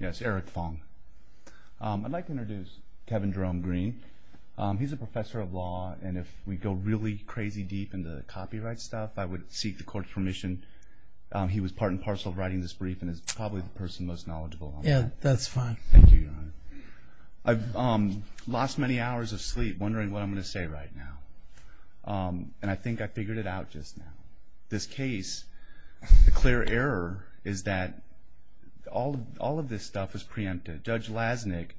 Yes, Eric Fong. I'd like to introduce Kevin Jerome Green. He's a professor of law, and if we go really crazy deep into copyright stuff, I would seek the court's permission. He was part and parcel of writing this brief and is probably the person most knowledgeable on that. Yeah, that's fine. Thank you, Your Honor. I've lost many hours of sleep wondering what I'm going to say right now, and I think I figured it out just now. This case, the clear error is that all of this stuff was preempted. Judge Lasnik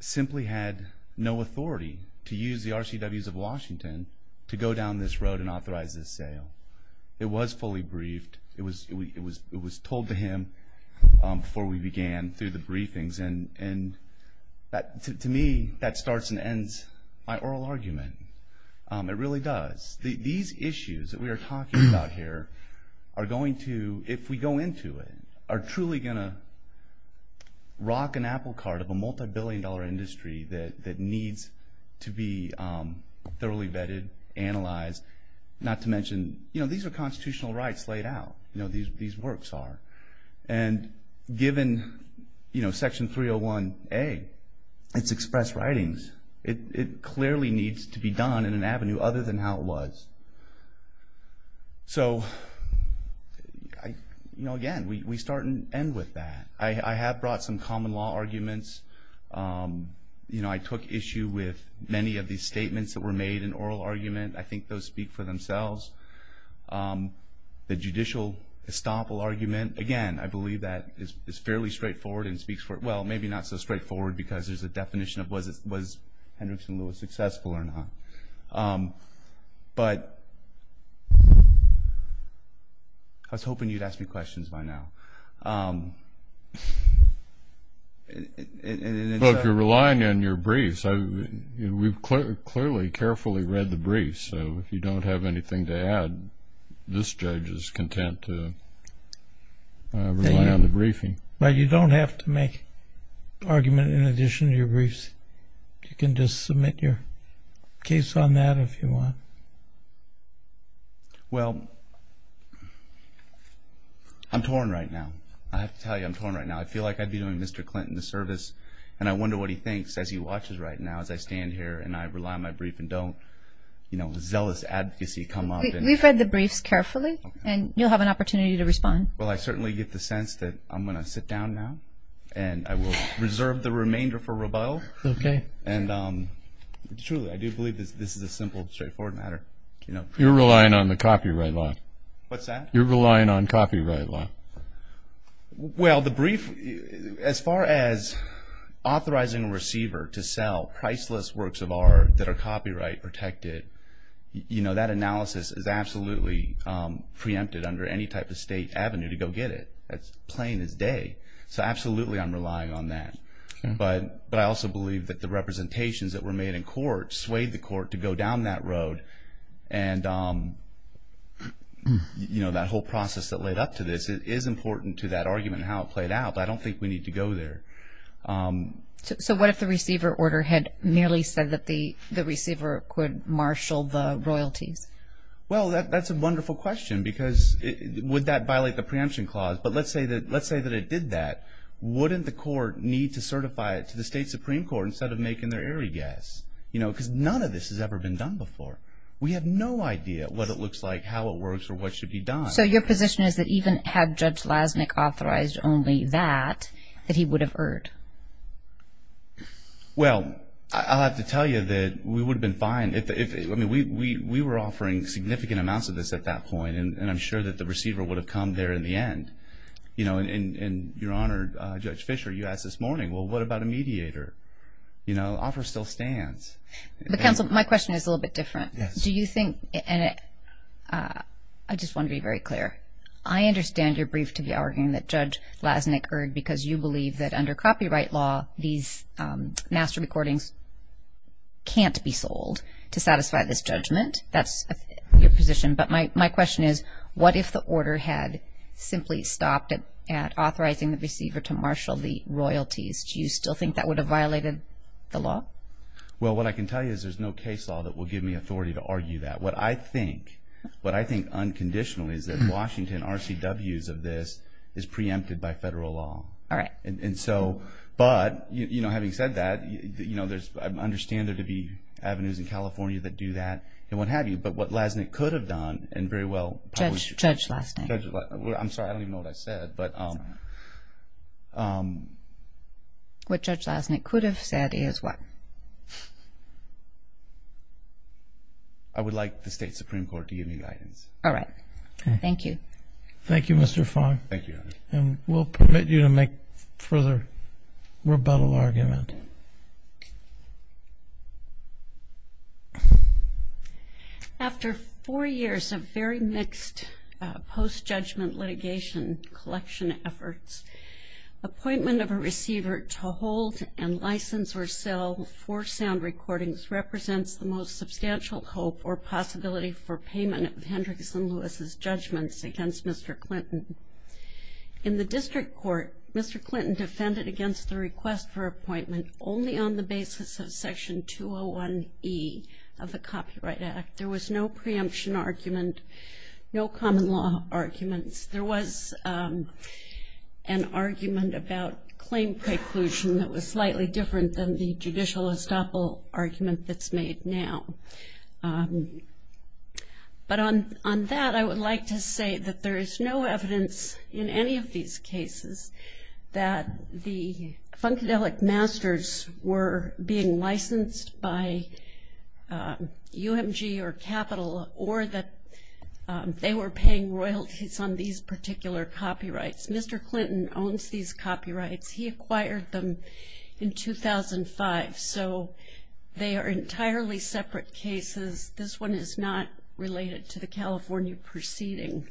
simply had no authority to use the RCWs of Washington to go down this road and authorize this sale. It was fully briefed. It was told to him before we began through the briefings, and to me, that starts and ends my oral argument. It really does. These issues that we are talking about here are going to, if we go into it, are truly going to rock an apple cart of a multi-billion dollar industry that needs to be thoroughly vetted, analyzed, not to mention these are constitutional rights laid out. These works are. Given Section 301A, it's express writings. It clearly needs to be done in an avenue other than how it was. Again, we start and end with that. I have brought some common law arguments. I took issue with many of these statements that were made in oral argument. I think those speak for themselves. The judicial estoppel argument, again, I believe that is fairly straightforward and speaks for, well, maybe not so straightforward because there's a definition of was Hendrickson Lewis successful or not. I was hoping you'd ask me questions by now. Well, if you're relying on your briefs, we've clearly, carefully read the briefs, so if you don't have anything to add, this judge is content to rely on the briefing. But you don't have to make argument in addition to your briefs. You can just submit your case on that if you want. Well, I'm torn right now. I have to tell you, I'm torn right now. I feel like I'd be doing Mr. Clinton a service, and I wonder what he thinks as he watches right now as I stand here and I rely on my brief and don't, you know, zealous advocacy come up. We've read the briefs carefully, and you'll have an opportunity to respond. Well, I certainly get the sense that I'm going to sit down now, and I will reserve the remainder for rebuttal. Okay. And truly, I do believe this is a simple, straightforward matter. You're relying on the copyright law. What's that? You're relying on copyright law. Well, the brief, as far as authorizing a receiver to sell priceless works of art that are copyright protected, you know, that analysis is absolutely preempted under any type of state avenue to go get it. That's plain as day. So, absolutely, I'm relying on that. But I also believe that the representations that were made in court swayed the court to go down that road, and, you know, that whole process that led up to this is important to that argument and how it played out, but I don't think we need to go there. So, what if the receiver order had merely said that the receiver could marshal the royalties? Well, that's a wonderful question, because would that violate the preemption clause? But let's say that it did that. Wouldn't the court need to certify it to the state supreme court instead of making their airy guess? You know, because none of this has ever been done before. We have no idea what it looks like, how it works, or what should be done. So, your position is that even had Judge Lasnik authorized only that, that he would have erred? Well, I'll have to tell you that we would have been fine. I mean, we were offering significant amounts of this at that point, and I'm sure that the receiver would have come there in the end. You know, and, Your Honor, Judge Fischer, you asked this morning, well, what about a mediator? You know, the offer still stands. But, counsel, my question is a little bit different. Yes. Do you think, and I just want to be very clear. I understand your brief to be arguing that Judge Lasnik erred because you believe that under copyright law, these master recordings can't be sold to satisfy this judgment. That's your position. But my question is, what if the order had simply stopped at authorizing the receiver to marshal the royalties? Do you still think that would have violated the law? Well, what I can tell you is there's no case law that will give me authority to argue that. But what I think unconditionally is that Washington RCWs of this is preempted by federal law. All right. And so, but, you know, having said that, you know, I understand there to be avenues in California that do that and what have you, but what Lasnik could have done and very well probably should have done. Judge Lasnik. I'm sorry, I don't even know what I said. What Judge Lasnik could have said is what? I would like the State Supreme Court to give me guidance. All right. Thank you. Thank you, Mr. Fong. Thank you, Your Honor. And we'll permit you to make further rebuttal argument. After four years of very mixed post-judgment litigation collection efforts, appointment of a receiver to hold and license or sell for sound recordings represents the most substantial hope or possibility for payment of Hendricks and Lewis's judgments against Mr. Clinton. In the district court, Mr. Clinton defended against the request for appointment only on the basis of Section 201E of the Copyright Act. There was no preemption argument, no common law arguments. There was an argument about claim preclusion that was slightly different than the judicial estoppel argument that's made now. But on that, I would like to say that there is no evidence in any of these cases that the Mr. Clinton owns these copyrights. He acquired them in 2005, so they are entirely separate cases. This one is not related to the California proceeding.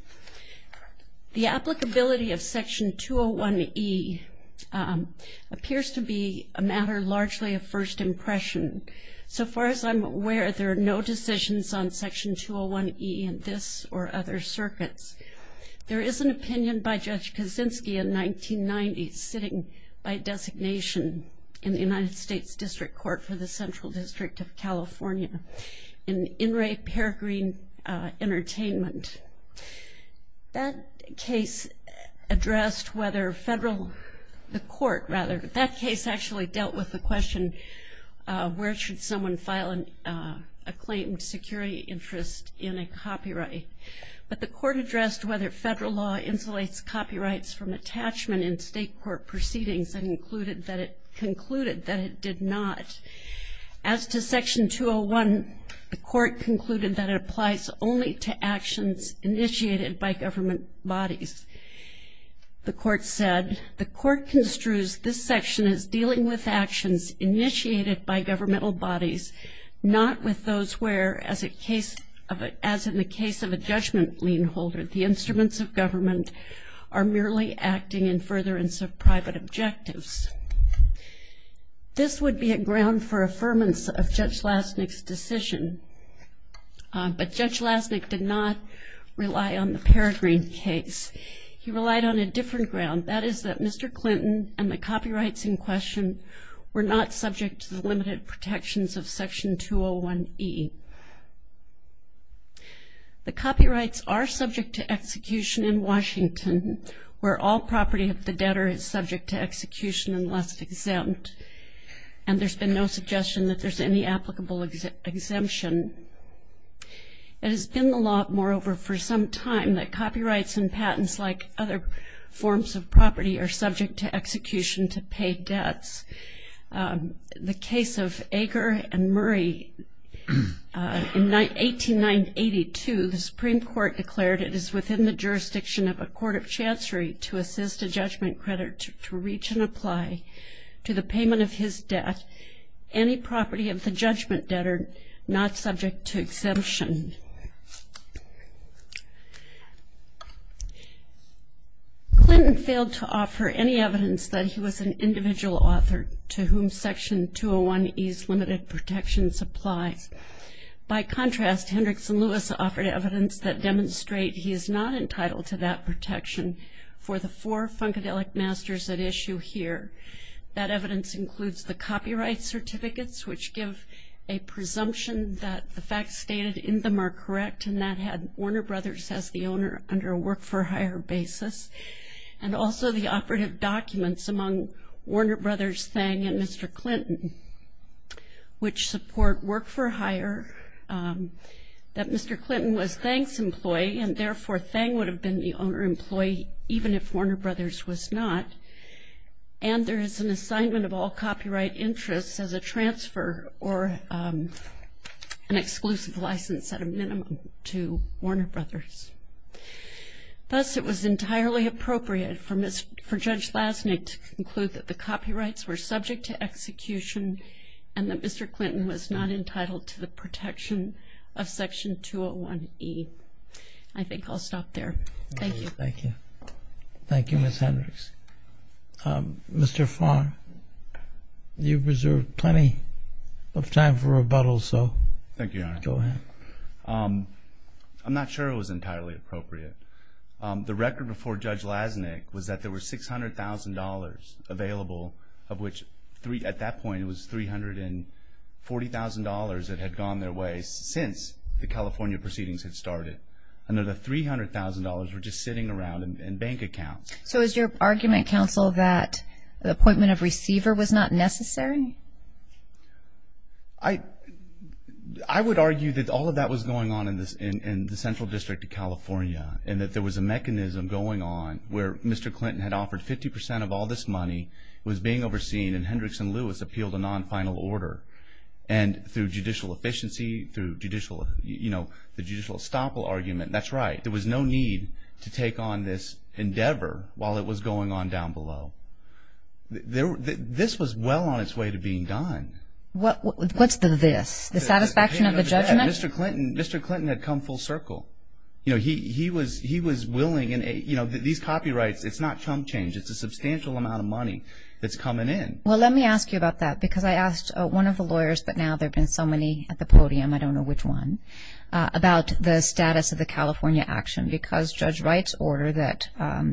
The applicability of Section 201E appears to be a matter largely of first impression. So far as I'm aware, there are no decisions on Section 201E in this or other circuits. There is an opinion by Judge Kaczynski in 1990 sitting by designation in the United States District Court for the Central District of California in In re Peregrine Entertainment. That case addressed whether federal, the court rather, that case actually dealt with the question, where should someone file a claim to security interest in a copyright? But the court addressed whether federal law insulates copyrights from attachment in state court proceedings and concluded that it did not. As to Section 201, the court concluded that it applies only to actions initiated by government bodies. The court said, the court construes this section as dealing with actions initiated by governmental bodies, not with those where, as in the case of a judgment lien holder, the instruments of government are merely acting in furtherance of private objectives. This would be a ground for affirmance of Judge Lasnik's decision. But Judge Lasnik did not rely on the Peregrine case. He relied on a different ground. That is that Mr. Clinton and the copyrights in question were not subject to the limited protections of Section 201E. The copyrights are subject to execution in Washington, where all property of the debtor is subject to execution unless exempt, and there's been no suggestion that there's any applicable exemption. It has been the law, moreover, for some time that copyrights and patents like other forms of property are subject to execution to pay debts. The case of Ager and Murray, in 18982, the Supreme Court declared it is within the jurisdiction of a court of chancery to assist a judgment creditor to reach and apply to the payment of his debt any property of the judgment debtor not subject to exemption. Clinton failed to offer any evidence that he was an individual author to whom Section 201E's limited protections apply. By contrast, Hendrickson Lewis offered evidence that demonstrate he is not entitled to that protection for the four funcadelic masters at issue here. That evidence includes the copyright certificates, which give a presumption that the facts stated in them are correct, and that had Warner Brothers as the owner under a work-for-hire basis, and also the operative documents among Warner Brothers, Thang, and Mr. Clinton, which support work-for-hire, that Mr. Clinton was Thang's employee, and therefore Thang would have been the owner-employee even if Warner Brothers was not, and there is an assignment of all copyright interests as a transfer or an exclusive license at a minimum to Warner Brothers. Thus, it was entirely appropriate for Judge Lasnik to conclude that the copyrights were subject to execution and that Mr. Clinton was not entitled to the protection of Section 201E. Thank you. Thank you. Thank you, Ms. Hendricks. Mr. Farr, you've reserved plenty of time for rebuttals, so go ahead. Thank you, Your Honor. I'm not sure it was entirely appropriate. The record before Judge Lasnik was that there were $600,000 available, of which at that point it was $340,000 that had gone their way since the California proceedings had started, and the $300,000 were just sitting around in bank accounts. So is your argument, counsel, that the appointment of receiver was not necessary? I would argue that all of that was going on in the Central District of California and that there was a mechanism going on where Mr. Clinton had offered 50% of all this money, was being overseen, and Hendricks and Lewis appealed a non-final order, and through judicial efficiency, through the judicial estoppel argument, that's right, there was no need to take on this endeavor while it was going on down below. This was well on its way to being done. What's the this, the satisfaction of the judgment? Mr. Clinton had come full circle. He was willing, and these copyrights, it's not chump change. It's a substantial amount of money that's coming in. Well, let me ask you about that because I asked one of the lawyers, but now there have been so many at the podium, I don't know which one, about the status of the California action because Judge Wright's order that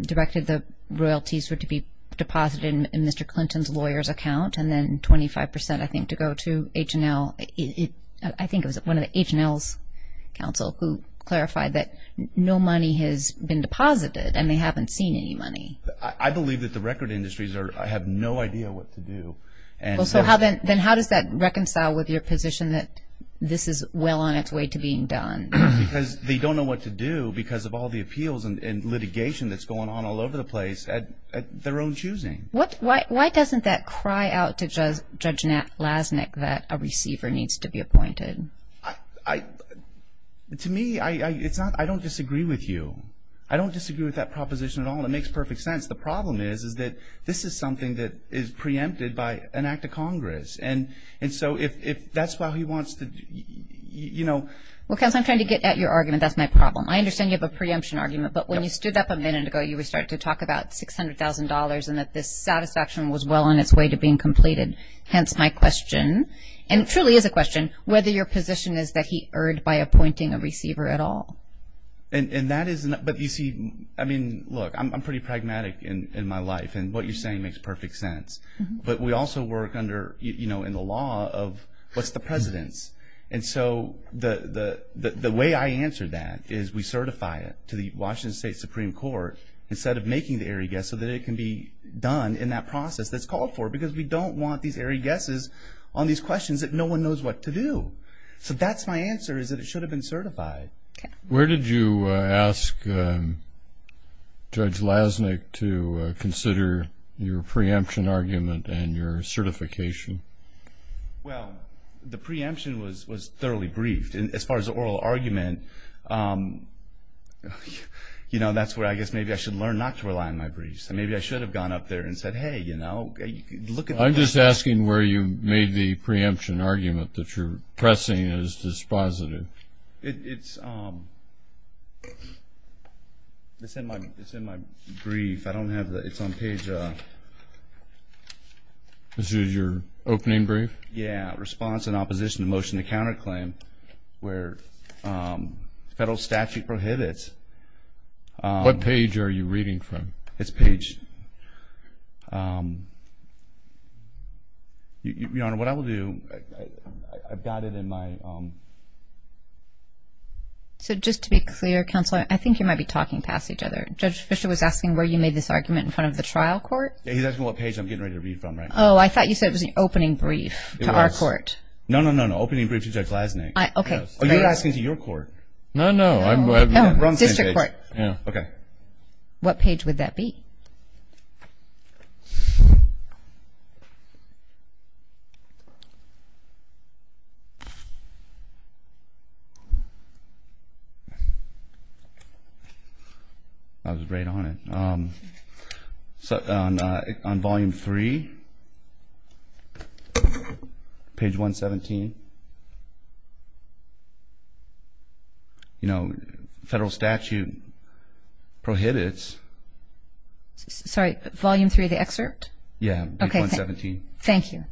directed the royalties were to be deposited in Mr. Clinton's lawyer's account and then 25%, I think, to go to H&L. I think it was one of the H&L's counsel who clarified that no money has been deposited and they haven't seen any money. I believe that the record industries have no idea what to do. Then how does that reconcile with your position that this is well on its way to being done? Because they don't know what to do because of all the appeals and litigation that's going on all over the place at their own choosing. Why doesn't that cry out to Judge Lasnik that a receiver needs to be appointed? To me, I don't disagree with you. I don't disagree with that proposition at all. It makes perfect sense. The problem is that this is something that is preempted by an act of Congress. And so if that's why he wants to, you know. Well, counsel, I'm trying to get at your argument. That's my problem. I understand you have a preemption argument, but when you stood up a minute ago you were starting to talk about $600,000 and that this satisfaction was well on its way to being completed. Hence my question, and it truly is a question, whether your position is that he erred by appointing a receiver at all. And that is, but you see, I mean, look, I'm pretty pragmatic in my life and what you're saying makes perfect sense. But we also work under, you know, in the law of what's the precedence. And so the way I answer that is we certify it to the Washington State Supreme Court instead of making the airy guess so that it can be done in that process that's called for because we don't want these airy guesses on these questions that no one knows what to do. So that's my answer is that it should have been certified. Okay. Where did you ask Judge Lasnik to consider your preemption argument and your certification? Well, the preemption was thoroughly briefed. And as far as the oral argument, you know, that's where I guess maybe I should learn not to rely on my briefs. Maybe I should have gone up there and said, hey, you know, look at that. I'm just asking where you made the preemption argument that you're pressing as dispositive. It's in my brief. I don't have it. It's on page. This is your opening brief? Yeah. Response in opposition to motion to counterclaim where federal statute prohibits. What page are you reading from? It's page. Your Honor, what I will do, I've got it in my. So just to be clear, Counselor, I think you might be talking past each other. Judge Fischer was asking where you made this argument in front of the trial court. He's asking what page I'm getting ready to read from right now. Oh, I thought you said it was the opening brief to our court. No, no, no, no, opening brief to Judge Lasnik. Okay. You're asking to your court. No, no. District court. Okay. What page would that be? Page 117. Sorry, volume three of the excerpt? Yeah, page 117. Thank you.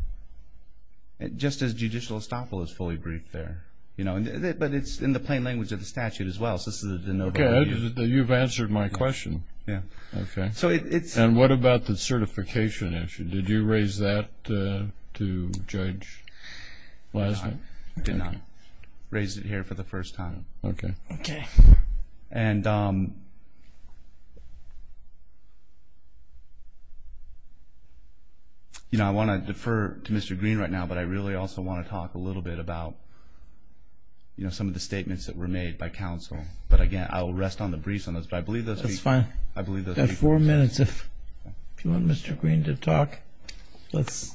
Just as Judicial Estoppel is fully briefed there, you know, but it's in the plain language of the statute as well. So this is a no-brainer. Okay. You've answered my question. Yeah. Okay. And what about the certification issue? Did you raise that to Judge Lasnik? Did not. Raised it here for the first time. Okay. And, you know, I want to defer to Mr. Green right now, but I really also want to talk a little bit about, you know, some of the statements that were made by counsel. But, again, I will rest on the briefs on those. That's fine. I believe those briefs. You have four minutes. If you want Mr. Green to talk, let's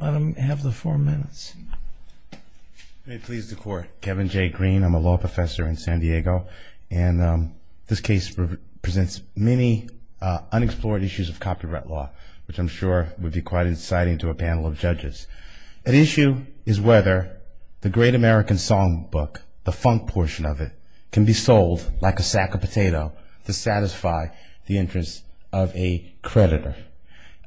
let him have the four minutes. May it please the Court. Kevin J. Green. I'm a law professor in San Diego, and this case presents many unexplored issues of copyright law, which I'm sure would be quite exciting to a panel of judges. An issue is whether the Great American Songbook, the funk portion of it, can be sold like a sack of potato to satisfy the interests of a creditor.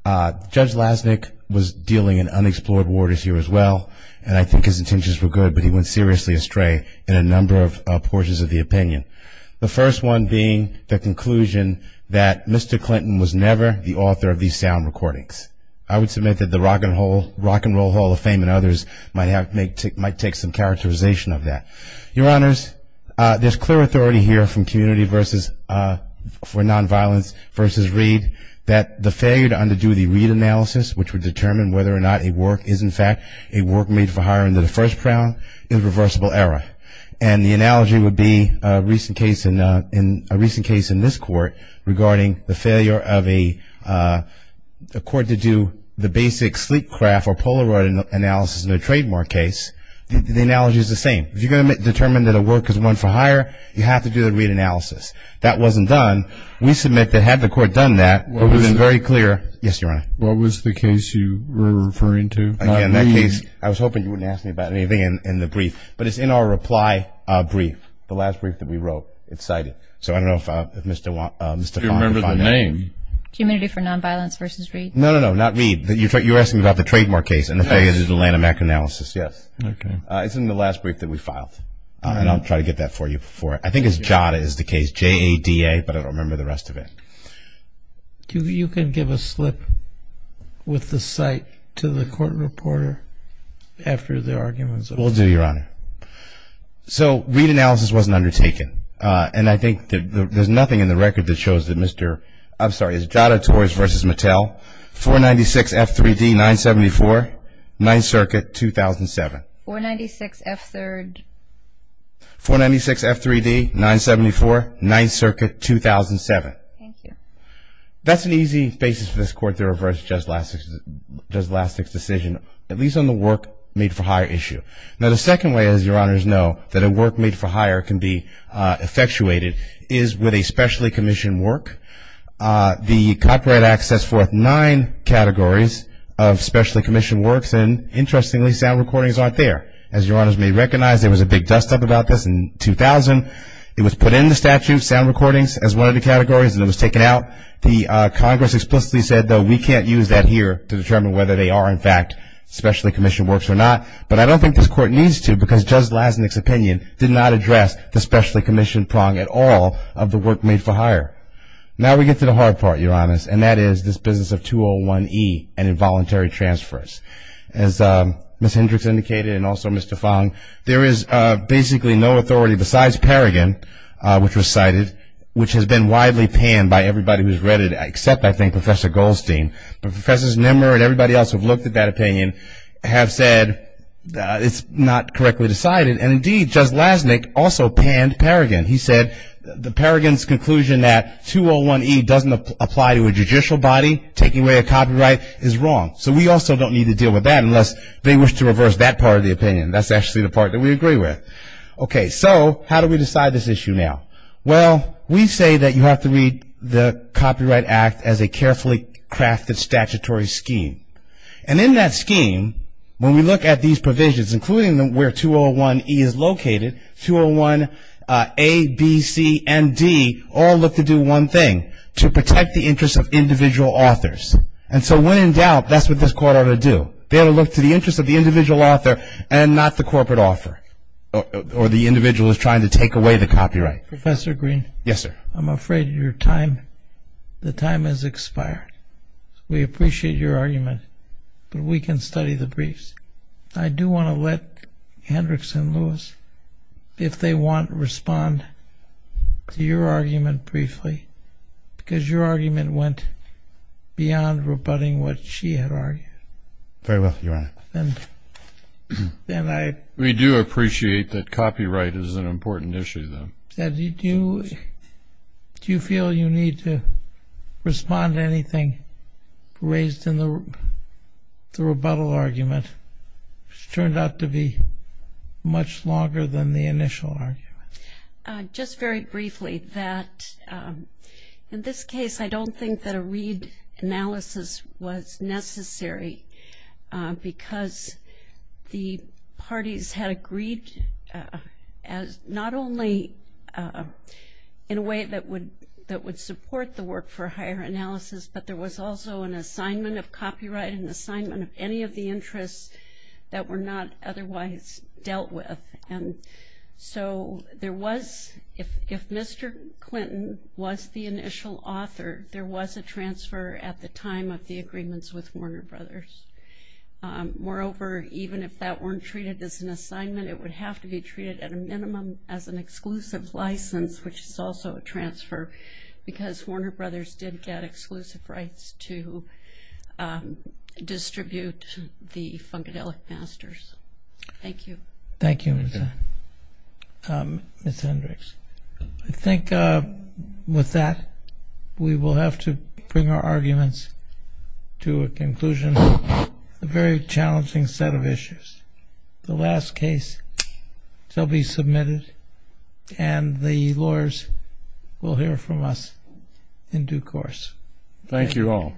Judge Lasnik was dealing in unexplored waters here as well, and I think his intentions were good, but he went seriously astray in a number of portions of the opinion, the first one being the conclusion that Mr. Clinton was never the author of these sound recordings. I would submit that the Rock and Roll Hall of Fame and others might take some characterization of that. Your Honors, there's clear authority here from Community for Nonviolence versus Reed that the failure to underdo the Reed analysis, which would determine whether or not a work is, in fact, a work made for hire under the first proud irreversible error. And the analogy would be a recent case in this court regarding the failure of a court to do the basic sleek craft or Polaroid analysis in a trademark case. The analogy is the same. If you're going to determine that a work is one for hire, you have to do the Reed analysis. That wasn't done. We submit that had the court done that, it would have been very clear. Yes, Your Honor. What was the case you were referring to? Again, that case, I was hoping you wouldn't ask me about anything in the brief, but it's in our reply brief, the last brief that we wrote. It's cited. So I don't know if Mr. Fong can find that. Do you remember the name? Community for Nonviolence versus Reed. No, no, no, not Reed. You're asking about the trademark case and the failure to do the Lanham-Mack analysis, yes. Okay. It's in the last brief that we filed, and I'll try to get that for you. I think it's JADA is the case, J-A-D-A, but I don't remember the rest of it. You can give a slip with the cite to the court reporter after the arguments. Will do, Your Honor. So Reed analysis wasn't undertaken, and I think there's nothing in the record that shows that Mr. I'm sorry, it's JADA Tories versus Mattel, 496F3D, 974, 9th Circuit, 2007. 496F3rd. 496F3D, 974, 9th Circuit, 2007. Thank you. That's an easy basis for this Court to reverse Judge Lastic's decision, at least on the work made for hire issue. Now, the second way, as Your Honors know, that a work made for hire can be effectuated is with a specially commissioned work. The Copyright Act sets forth nine categories of specially commissioned works, and interestingly, sound recordings aren't there. As Your Honors may recognize, there was a big dust-up about this in 2000. It was put in the statute, sound recordings, as one of the categories, and it was taken out. The Congress explicitly said, though, we can't use that here to determine whether they are, in fact, specially commissioned works or not. But I don't think this Court needs to, because Judge Lastic's opinion did not address the specially commissioned prong at all of the work made for hire. Now we get to the hard part, Your Honors, and that is this business of 201E and involuntary transfers. As Ms. Hendricks indicated and also Mr. Fong, there is basically no authority besides Paragon, which was cited, which has been widely panned by everybody who's read it except, I think, Professor Goldstein. But Professors Nimmer and everybody else who have looked at that opinion have said it's not correctly decided. And indeed, Judge Lastic also panned Paragon. He said the Paragon's conclusion that 201E doesn't apply to a judicial body, taking away a copyright, is wrong. So we also don't need to deal with that unless they wish to reverse that part of the opinion. That's actually the part that we agree with. Okay, so how do we decide this issue now? Well, we say that you have to read the Copyright Act as a carefully crafted statutory scheme. And in that scheme, when we look at these provisions, including where 201E is located, 201A, B, C, and D all look to do one thing, to protect the interests of individual authors. And so when in doubt, that's what this Court ought to do. They ought to look to the interests of the individual author and not the corporate author or the individual who's trying to take away the copyright. Professor Green. Yes, sir. I'm afraid your time, the time has expired. We appreciate your argument, but we can study the briefs. I do want to let Hendricks and Lewis, if they want, respond to your argument briefly, because your argument went beyond rebutting what she had argued. Very well, Your Honor. We do appreciate that copyright is an important issue, though. Do you feel you need to respond to anything raised in the rebuttal argument, which turned out to be much longer than the initial argument? Just very briefly, that in this case, I don't think that a read analysis was necessary, because the parties had agreed not only in a way that would support the work for higher analysis, but there was also an assignment of copyright, an assignment of any of the interests, that were not otherwise dealt with. So there was, if Mr. Clinton was the initial author, there was a transfer at the time of the agreements with Warner Brothers. Moreover, even if that weren't treated as an assignment, it would have to be treated at a minimum as an exclusive license, which is also a transfer, because Warner Brothers did get exclusive rights to distribute the Funkadelic Masters. Thank you. Thank you, Ms. Hendricks. I think with that, we will have to bring our arguments to a conclusion. A very challenging set of issues. The last case shall be submitted, and the lawyers will hear from us in due course. Thank you all.